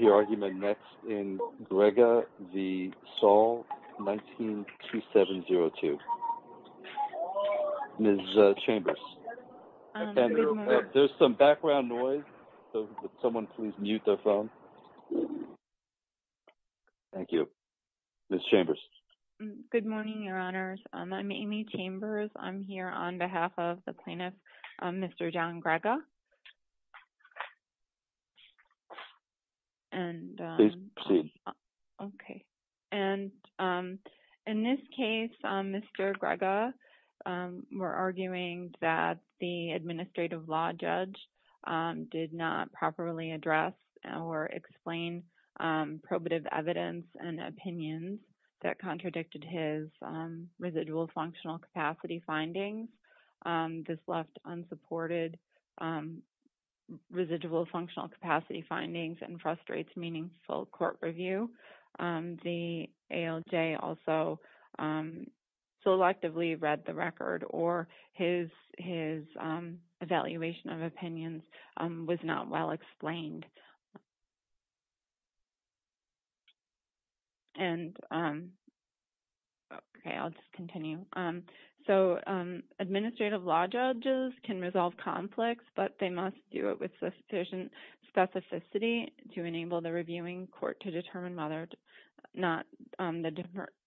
19-2702. Ms. Chambers. There's some background noise. Someone please mute their phone. Thank you. Ms. Chambers. Good morning, Your Honors. I'm Amy Chambers. I'm here on behalf of the Okay. And in this case, Mr. Grega, we're arguing that the administrative law judge did not properly address or explain probative evidence and opinions that contradicted his residual functional capacity findings. This left unsupported residual functional capacity findings and frustrates meaningful court review. The ALJ also selectively read the record or his evaluation of opinions was not well explained. And okay, I'll just continue. So administrative law judges can resolve conflicts, but they must do it with sufficient specificity to enable the reviewing court to determine whether or not the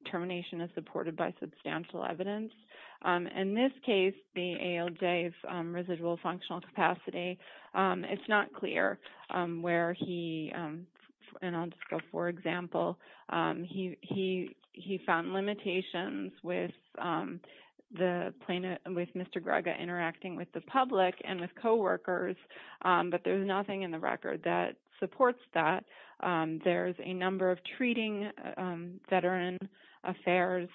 determination is supported by substantial evidence. In this case, the ALJ's residual functional capacity, it's not clear where he, and I'll just go for example, he found limitations with Mr. Grega interacting with the public and with coworkers, but there's nothing in the record that supports that. There's a number of treating veteran affairs,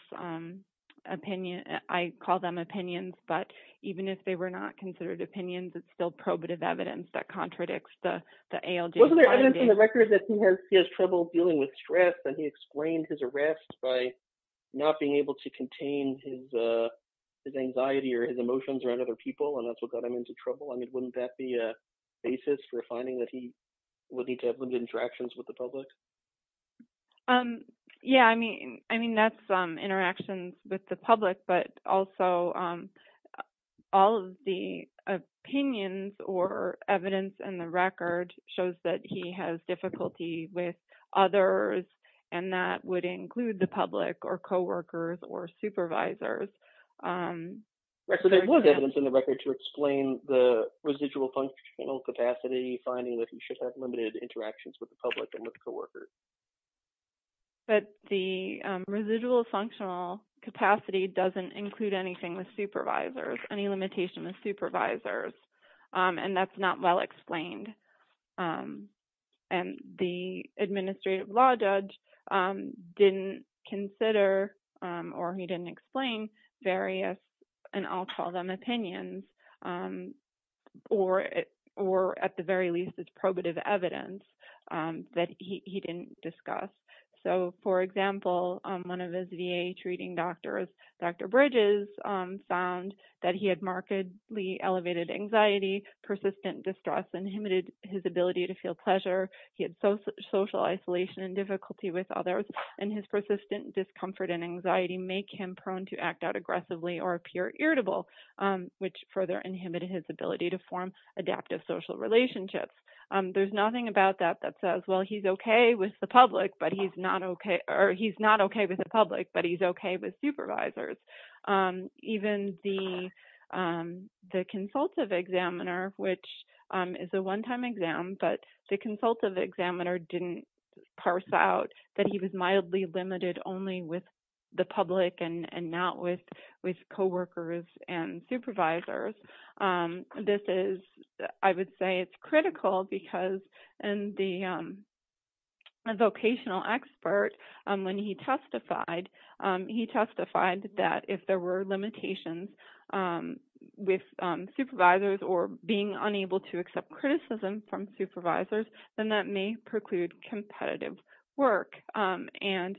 I call them opinions, but even if they were not considered opinions, it's still probative evidence that contradicts the ALJ findings. Wasn't there evidence in the record that he has trouble dealing with stress and he explained his arrest by not being able to contain his anxiety or his emotions around other people and that's what got him into trouble? I mean, wouldn't that be a basis for finding that he would need to have limited interactions with the public? Yeah, I mean, that's interactions with the public, but also all of the opinions or evidence in the record shows that he has difficulty with others and that would include the public or coworkers or supervisors. Right, so there was evidence in the record to explain the residual functional capacity, finding that he should have limited interactions with the public and with coworkers. But the residual functional capacity doesn't include anything with supervisors, any limitation with supervisors, and that's not well explained. And the administrative law judge didn't consider or he didn't explain various, and I'll call them opinions, or at the very least, it's probative evidence that he didn't discuss. So for example, one of his VA treating doctors, Dr. Bridges, found that he had markedly elevated anxiety, persistent distress, inhibited his ability to feel pleasure, he had social isolation and difficulty with others, and his persistent discomfort and anxiety make him prone to act out aggressively or appear irritable, which further inhibited his ability to form adaptive social relationships. There's nothing about that that says, well, he's okay with the public, but he's not okay, or he's not okay with the public, but he's okay with supervisors. Even the consultative examiner, which is a one-time exam, but the consultative examiner didn't parse out that he was mildly limited only with the public and not with coworkers and supervisors. This is, I would say, it's critical because in the vocational expert, when he testified, he testified that if there were limitations with supervisors or being unable to accept criticism from supervisors, then that may preclude competitive work. And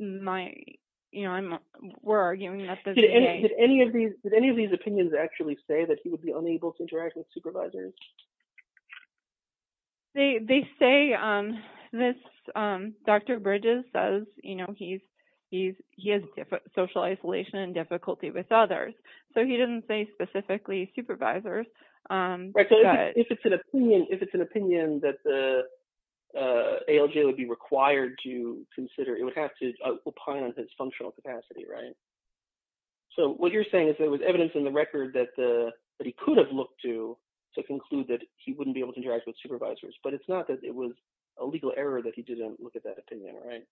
my, you know, we're arguing that the VA- Did any of these opinions actually say that he would be unable to interact with supervisors? They say this, Dr. Bridges says, you know, he has social isolation and difficulty with others. So he didn't say specifically supervisors, but- Right, so if it's an opinion that the ALJ would be required to consider, it would have to opine on his functional capacity, right? So what you're saying is there was evidence in the record that he could have looked to to conclude that he wouldn't be able to interact with supervisors, but it's not that it was a legal error that he didn't look at that opinion, right?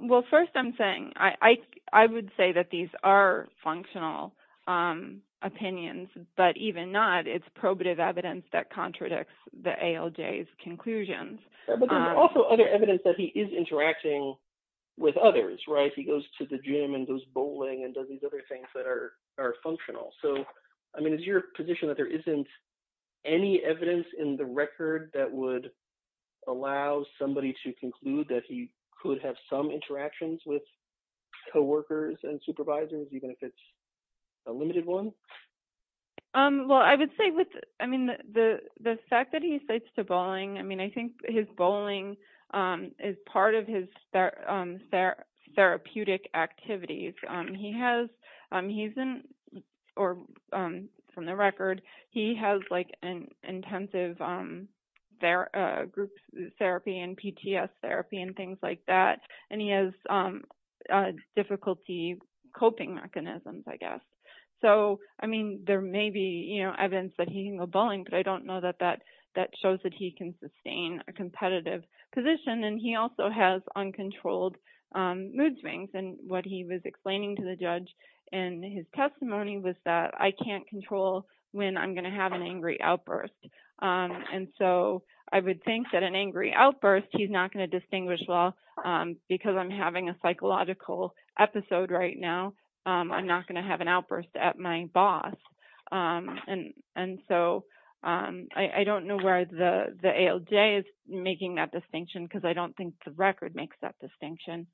Well, first I'm saying, I would say that these are functional opinions, but even not, it's probative evidence that contradicts the ALJ's conclusions. But there's also other evidence that he is interacting with others, right? He goes to the gym and goes bowling and does these other things that are functional. So, I mean, is your position that there isn't any evidence in the record that would allow somebody to conclude that he could have some interactions with co-workers and supervisors, even if it's a limited one? Well, I would say with, I mean, the fact that he relates to bowling, I mean, I think his bowling is part of his therapeutic activities. He has, he's in, or from the record, he has like an intensive group therapy and PTS therapy and things like that. And he has difficulty coping mechanisms, I guess. So, I mean, there may be, you know, evidence that he can go bowling, but I don't know that that shows that he can sustain a competitive position. And he also has uncontrolled mood swings. And what he was explaining to the judge in his testimony was that I can't control when I'm going to have an angry outburst. And so, I would think that an angry outburst, he's not going to distinguish. Well, because I'm having a psychological episode right now, I'm not going to have an outburst at my boss. And so, I don't know where the ALJ is making that distinction, because I don't think the record makes that distinction.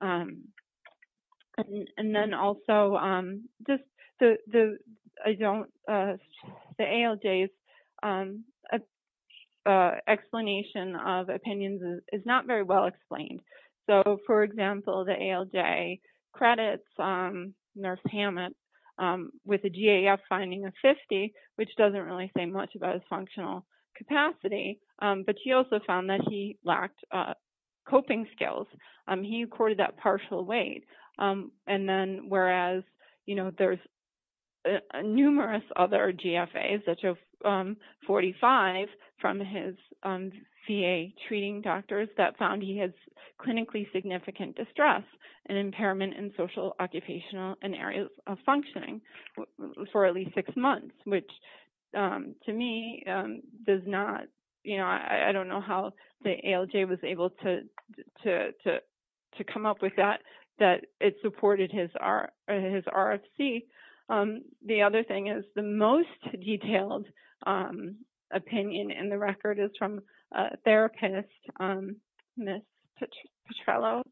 And then also, the ALJ's explanation of opinions is not very well explained. So, for example, the ALJ credits Nurse Hammett with a GAF finding of 50, which doesn't really say much about his functional capacity. But she also found that he lacked coping skills. He recorded that partial weight. And then, there's numerous other GFAs, such as 45 from his VA treating doctors that found he has clinically significant distress and impairment in social, occupational, and areas of functioning for at least six months, which to me does not, you know, I don't know how the ALJ was able to come up with that. It supported his RFC. The other thing is the most detailed opinion in the record is from therapist, Ms. Petrello.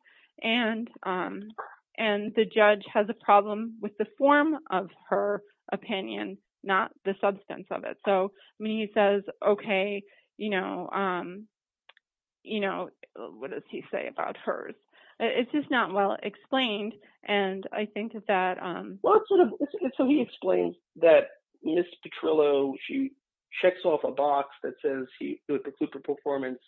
And the judge has a problem with the form of her opinion, not the substance of it. So, I mean, he says, okay, you know, what does he say about hers? It's just not well explained. And I think that- Well, so he explains that Ms. Petrello, she checks off a box that says he would preclude the performance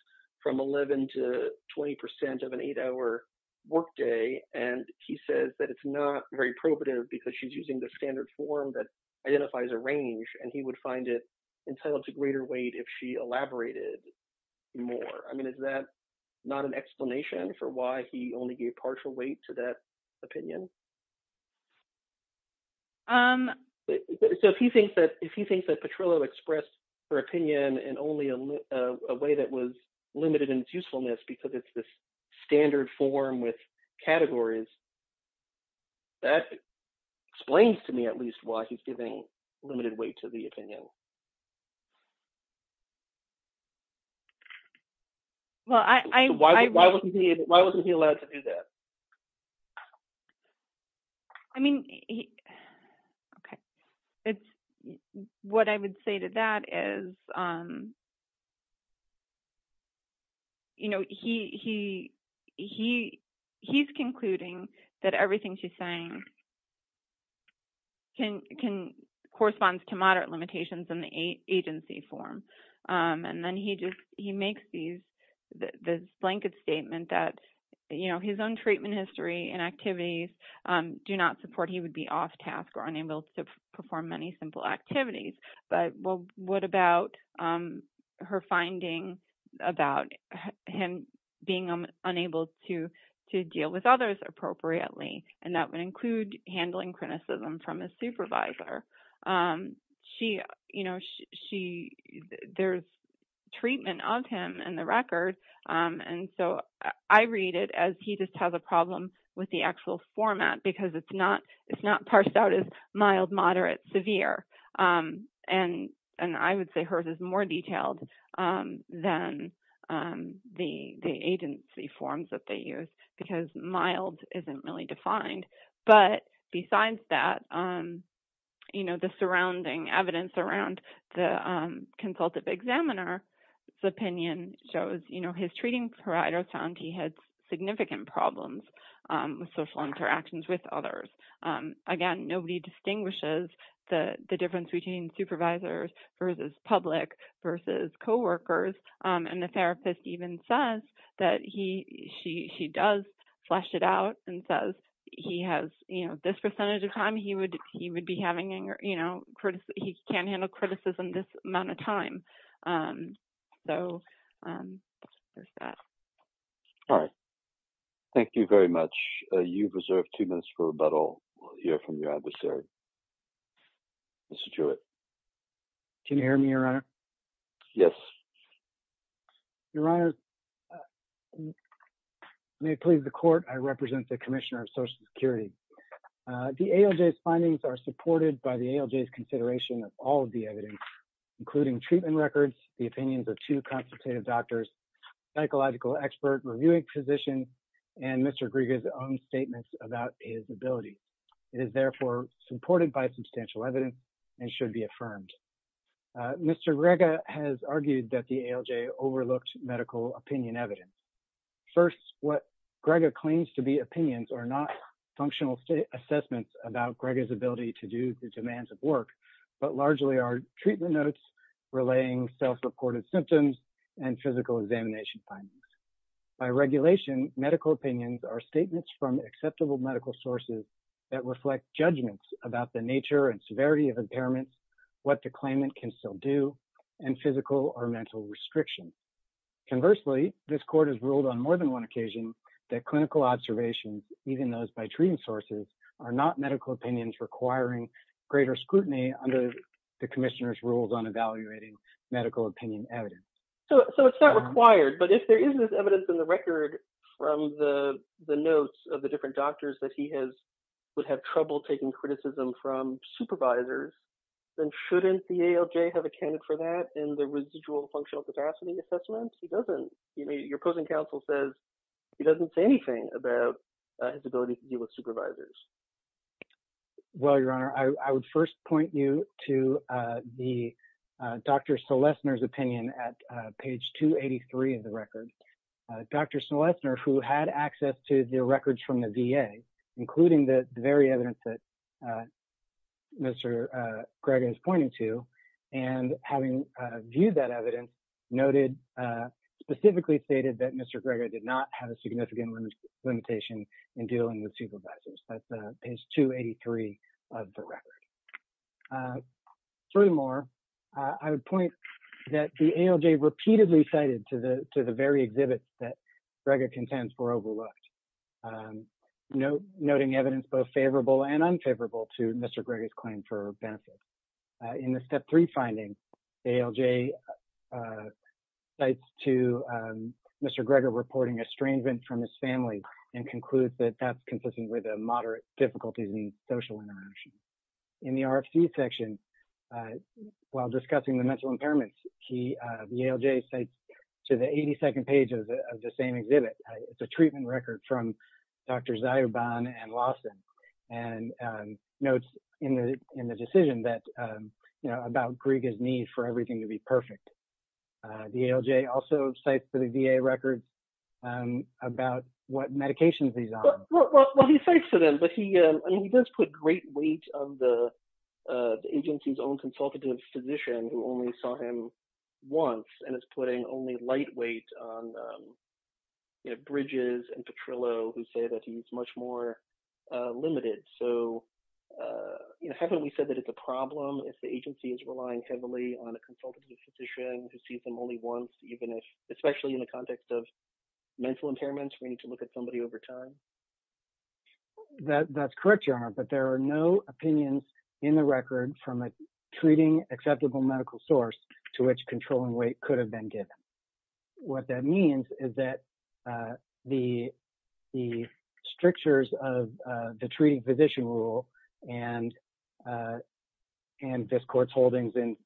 from 11 to 20% of an eight-hour workday. And he says that it's not very probative because she's using the standard form that identifies a range, and he would find it entitled to greater weight if she elaborated more. I mean, is that not an explanation for why he only gave partial weight to that opinion? So, if he thinks that Petrello expressed her opinion in only a way that was limited in its usefulness because it's this standard form with categories, that explains to me at least why he's giving limited weight to the opinion. Well, I- Why wasn't he allowed to do that? I mean, okay. What I would say to that is, you know, he's concluding that everything she's saying corresponds to moderate limitations in the agency form. And then he makes this blanket statement that, you know, his own treatment history and activities do not support he would be off task or unable to perform many simple activities. But what about her finding about him being unable to deal with others appropriately? And that would include handling criticism from a supervisor. There's treatment of him in the record. And so, I read it as he just has a problem with the actual format because it's not parsed out as mild, moderate, severe. And I would say hers is more detailed than the agency forms that they use because mild isn't really defined. But besides that, you know, the surrounding evidence around the consultative examiner's opinion shows, you know, his treating provider found he had significant problems with social interactions with others. Again, nobody distinguishes the difference between supervisors versus public versus coworkers. And the therapist even says that he- she does flesh it out and says he has, you know, this percentage of time he would be having, you know, he can't handle criticism this amount of time. So, there's that. All right. Thank you very much. You've reserved two minutes for rebuttal. We'll hear from your adversary. Mr. Jewett. Can you hear me, Your Honor? Yes. Your Honor, may it please the court, I represent the Commissioner of Social Security. The ALJ's findings are supported by the ALJ's consideration of all of the evidence, including treatment records, the opinions of two consultative doctors, psychological expert, reviewing physician, and Mr. Griega's own statements about his ability. It is, therefore, supported by substantial evidence and should be affirmed. Mr. Griega has argued that the ALJ overlooked medical opinion evidence. First, what Griega claims to be opinions are not functional assessments about Griega's ability to do the demands of work, but largely are treatment notes, relaying self-reported symptoms, and physical examination findings. By regulation, medical opinions are statements from acceptable medical sources that reflect judgments about the nature and severity of impairments, what the claimant can still do, and physical or mental restrictions. Conversely, this court has ruled on more than one occasion that clinical observations, even those by treatment sources, are not medical opinions requiring greater scrutiny under the Commissioner's rules on evaluating medical opinion evidence. So it's not required, but if there is this evidence in the record from the notes of the different doctors that he would have trouble taking criticism from supervisors, then shouldn't the ALJ have accounted for that in the residual functional capacity assessments? He doesn't. Your opposing counsel says he doesn't say anything about his ability to deal with supervisors. Well, Your Honor, I would first point you to Dr. Selessner's opinion at page 283 of the record. Dr. Selessner, who had access to the records from the VA, including the very evidence that Mr. Greger is pointing to, and having viewed that evidence, noted, specifically stated that Mr. Greger did not have a significant limitation in dealing with supervisors. That's page 283 of the record. Furthermore, I would point that the ALJ repeatedly cited to the very exhibits that Greger contends were overlooked, noting evidence both favorable and unfavorable to Mr. Greger's claim for benefit. In the Step 3 finding, the ALJ cites to Mr. Greger reporting estrangement from his family and concludes that that's consistent with a moderate difficulty in social interaction. In the RFC section, while discussing the mental impairments, the ALJ cites to the 82nd page of the same exhibit. It's a treatment record from Drs. Zioban and Lawson, and notes in the decision that, you know, about Greger's need for everything to be perfect. The ALJ also cites to the VA record about what medications he's on. Well, he cites to them, but he does put great weight on the agency's own consultative physician who only saw him once, and is putting only lightweight on, you know, Bridges and Petrillo, who say that he's much more limited. So, you know, haven't we said that it's a problem if the agency is relying heavily on a consultative physician who sees them only once, even if, especially in the context of mental impairments, we need to look at somebody over time? That's correct, Your Honor, but there are no opinions in the record from a treating acceptable medical source to which controlling weight could have been given. What that means is that the strictures of the treating physician rule and this court's holdings in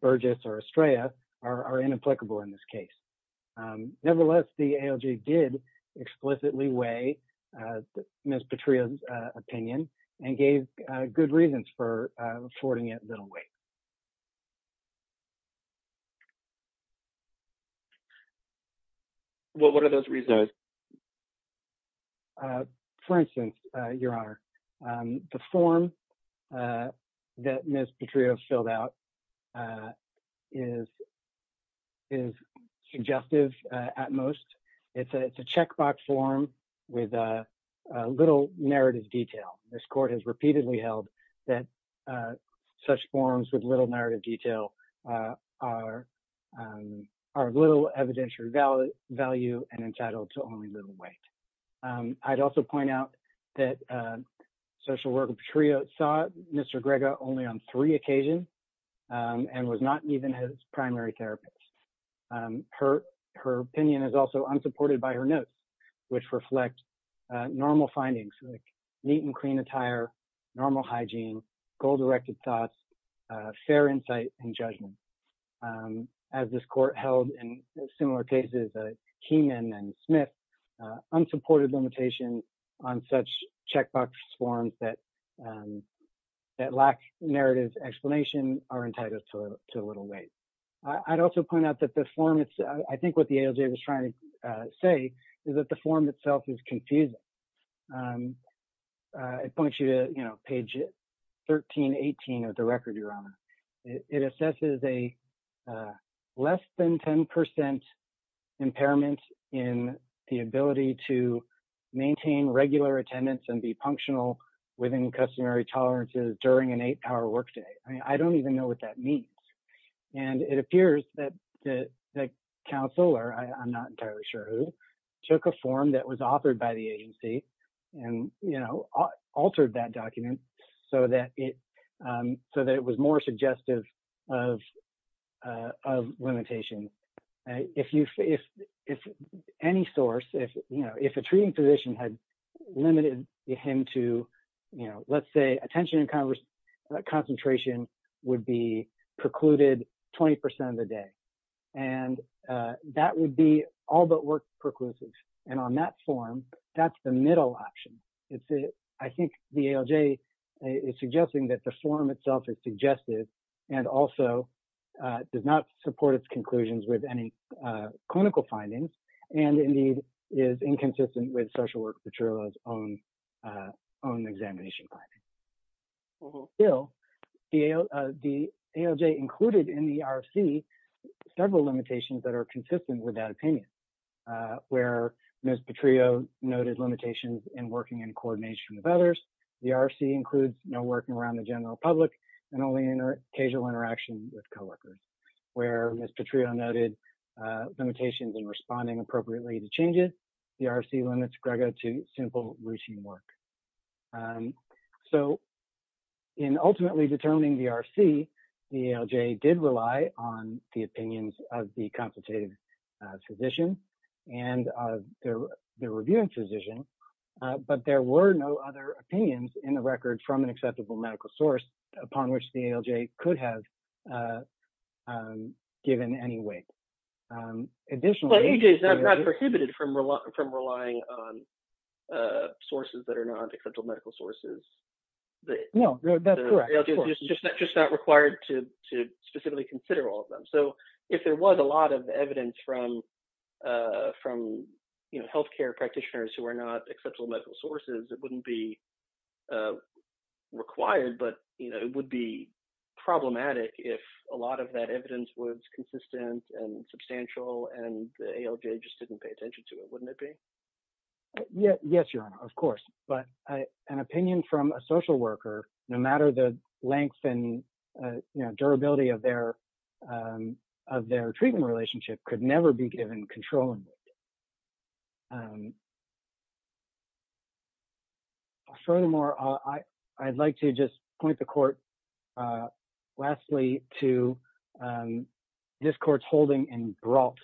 Burgess or Estrella are inapplicable in this case. Nevertheless, the ALJ did explicitly weigh Ms. Petrillo's opinion and gave good reasons for affording it little weight. Well, what are those reasons? For instance, Your Honor, the form that Ms. Petrillo filled out is suggestive at most. It's a checkbox form with little narrative detail. This court has repeatedly held that such forms with little narrative detail are of little evidential value and entitled to only little weight. I'd also point out that social worker Petrillo saw Mr. Grega only on three occasions and was not even his primary therapist. Her opinion is also unsupported by her notes, which reflect normal findings like neat and clean attire, normal hygiene, goal-directed thoughts, fair insight, and judgment. As this court held in similar cases, Keenan and Smith, unsupported limitations on such checkbox forms that lack narrative explanation are entitled to little weight. I'd also point out that the form, I think what the ALJ was trying to say is that the form itself is confusing. I point you to page 1318 of the record, Your Honor. It assesses a less than 10% impairment in the ability to maintain regular attendance and be functional within customary tolerances during an eight-hour workday. I don't even know what that took a form that was authored by the agency and altered that document so that it was more suggestive of limitation. If any source, if a treating physician had limited him to, let's say, attention and concentration would be precluded 20% of the day. That would be all but worked perclusive. And on that form, that's the middle option. I think the ALJ is suggesting that the form itself is suggestive and also does not support its conclusions with any clinical findings and indeed is inconsistent with Social Work Petrillo's own examination findings. Still, the ALJ included in the RFC several limitations that are consistent with that where Ms. Petrillo noted limitations in working in coordination with others. The RFC includes no working around the general public and only occasional interaction with coworkers. Where Ms. Petrillo noted limitations in responding appropriately to changes, the RFC limits Grego to simple routine work. So, in ultimately determining the RFC, the ALJ did rely on the opinions of the consultative physician and of the reviewing physician. But there were no other opinions in the record from an acceptable medical source upon which the ALJ could have given any weight. Additionally- Well, ALJ is not prohibited from relying on sources that are not acceptable medical sources. No, that's correct. Just not required to specifically consider all of them. So, if there was a lot of evidence from healthcare practitioners who are not acceptable medical sources, it wouldn't be required, but it would be problematic if a lot of that evidence was consistent and substantial and the ALJ just didn't pay attention to it, wouldn't it be? Yes, Your Honor, of course. But an opinion from a social worker, no matter the length and durability of their treatment relationship, could never be given control. Furthermore, I'd like to just point the court lastly to this court's holding in Brault.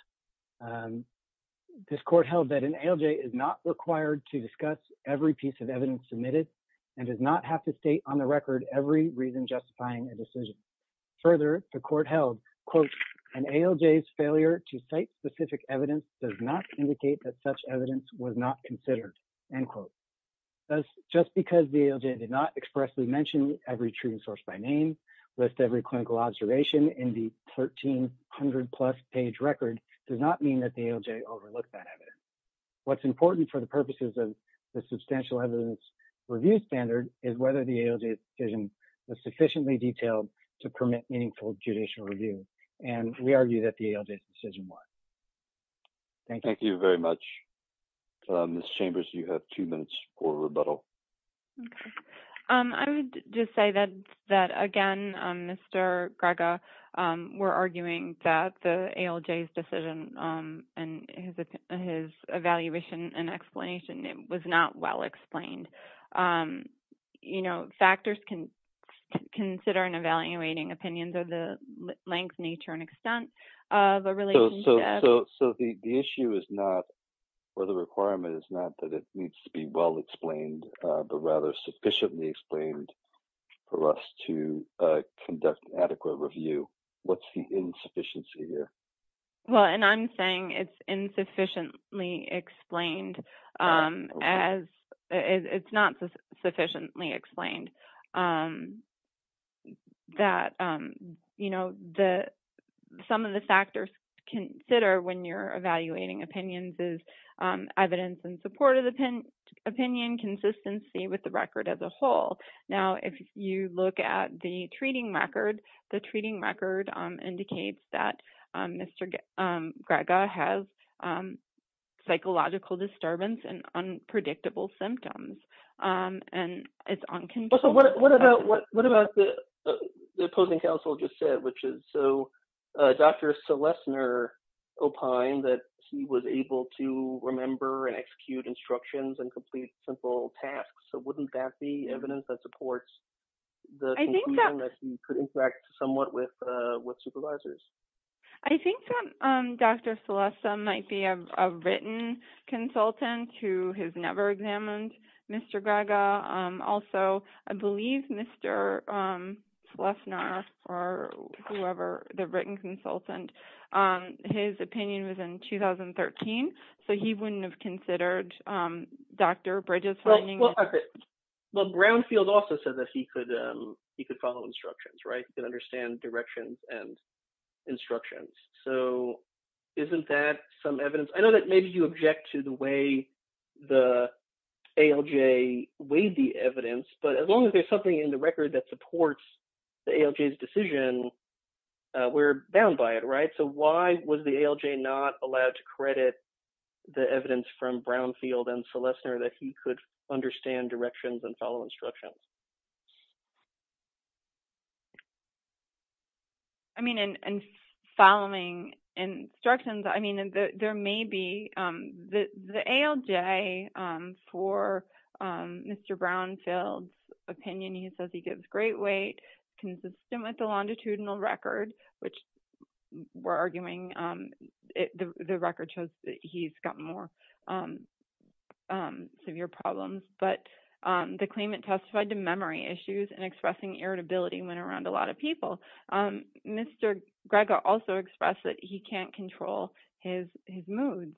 This court held that an ALJ is not required to discuss every piece of evidence submitted and does not have to state on the record every reason justifying a decision. Further, the court held, quote, an ALJ's failure to cite specific evidence does not indicate that such evidence was not considered, end quote. Thus, just because the ALJ did not expressly mention every treatment source by name, list every clinical observation in the 1300-plus page record, does not mean that the ALJ overlooked that evidence. What's important for the purposes of the substantial evidence review standard is whether the ALJ's decision was sufficiently detailed to permit meaningful judicial review, and we argue that the ALJ's decision was. Thank you. Thank you very much. Ms. Chambers, you have two minutes for rebuttal. Okay. I would just say that, again, Mr. Greger, we're arguing that the ALJ's decision and his evaluation and explanation was not well explained. You know, factors can consider in evaluating opinions of the length, nature, and extent of a relationship. So, the issue is not, or the requirement is not that it needs to be well explained, but rather sufficiently explained for us to conduct adequate review. What's the insufficiency here? Well, and I'm saying it's insufficiently explained as, it's not sufficiently explained that, you know, some of the factors consider when you're evaluating opinions is evidence in support of the opinion, consistency with the record as a whole. Now, if you look at the treating record, the treating record indicates that Mr. Greger has psychological disturbance and what about the opposing counsel just said, which is, so Dr. Selessner opined that he was able to remember and execute instructions and complete simple tasks. So, wouldn't that be evidence that supports the conclusion that he could interact somewhat with supervisors? I think that Dr. Selessner or whoever, the written consultant, his opinion was in 2013. So, he wouldn't have considered Dr. Bridges finding- Well, Brownfield also said that he could follow instructions, right? He could understand directions and instructions. So, isn't that some evidence? I know that maybe you object to the way the ALJ weighed the evidence, but as long as there's something in the record that supports the ALJ's decision, we're bound by it, right? So, why was the ALJ not allowed to credit the evidence from Brownfield and Selessner that he could understand directions and follow instructions? I mean, in following instructions, I mean, there may be the ALJ for Mr. Brownfield's opinion, he says he gives great weight consistent with the longitudinal record, which we're arguing the record shows that he's got more severe problems, but the claimant testified to memory issues and expressing irritability went around a lot of people. Mr. Greger also expressed that he can't control his moods.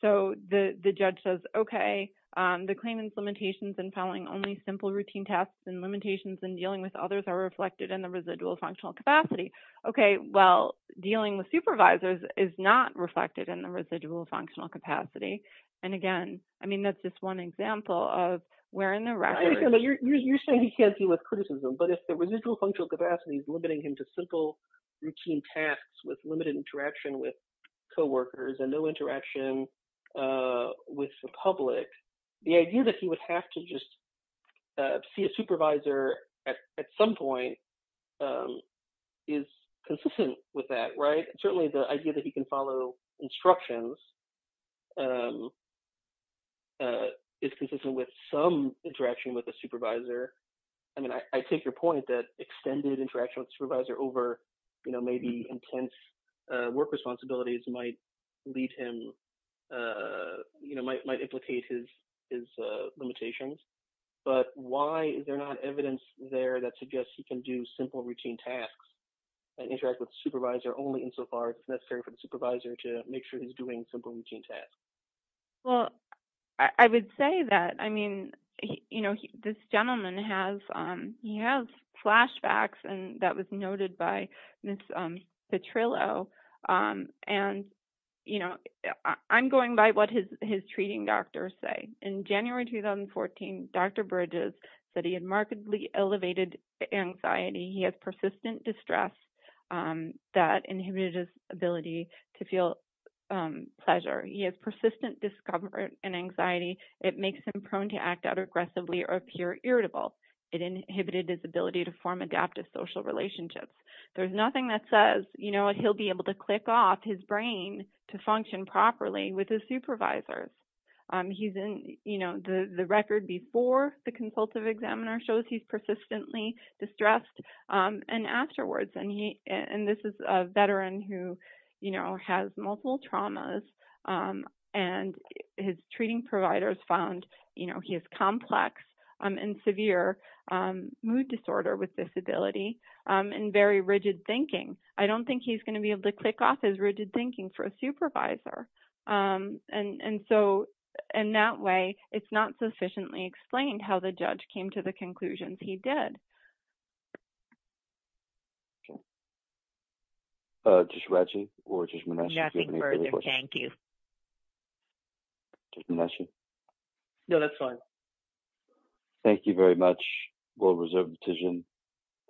So, the judge says, okay, the claimant's limitations in following only simple routine tasks and limitations in dealing with others are reflected in the residual functional capacity. Okay, well, dealing with supervisors is not reflected in the residual functional capacity. And again, I mean, that's just one example of where in the record- I understand, but you're saying he can't deal with criticism, but if the residual functional capacity is limiting him to simple routine tasks with limited interaction with coworkers and no interaction with the public, the idea that he would have to just see a supervisor at some point is consistent with that, right? Certainly the idea that he can follow instructions is consistent with some interaction with a supervisor. I mean, I take your point that extended interaction with the supervisor over maybe intense work responsibilities might lead him, you know, might implicate his limitations, but why is there not evidence there that suggests he can do simple routine tasks and interact with supervisor only insofar as necessary for the supervisor to make sure he's doing simple routine tasks? Well, I would say that, I mean, you know, this gentleman has flashbacks, and that was noted by Ms. Petrillo, and, you know, I'm going by what his treating doctors say. In January 2014, Dr. Bridges said he had markedly elevated anxiety. He had persistent distress that inhibited his ability to feel pleasure. He has persistent discomfort and anxiety. It makes him prone to act out aggressively or appear irritable. It inhibited his ability to form adaptive social relationships. There's nothing that says, you know, he'll be able to click off his brain to function properly with his supervisors. He's in, you know, the record before the consultative examiner shows he's persistently distressed, and afterwards, and this is a veteran who, you know, has multiple traumas, and his treating providers found, you know, he has complex and severe mood disorder with disability and very rigid thinking. I don't think he's going to be able to click off his rigid thinking for a supervisor, and so, in that way, it's not sufficiently explained how the judge came to the conclusions he did. Judge Ratchie or Judge Manesha? Nothing further. Thank you. Judge Manesha? No, that's fine. Thank you very much. World Reserve decision.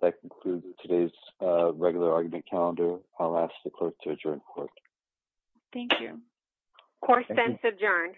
That concludes today's regular argument calendar. I'll ask the clerk to adjourn the court. Thank you. Court is adjourned.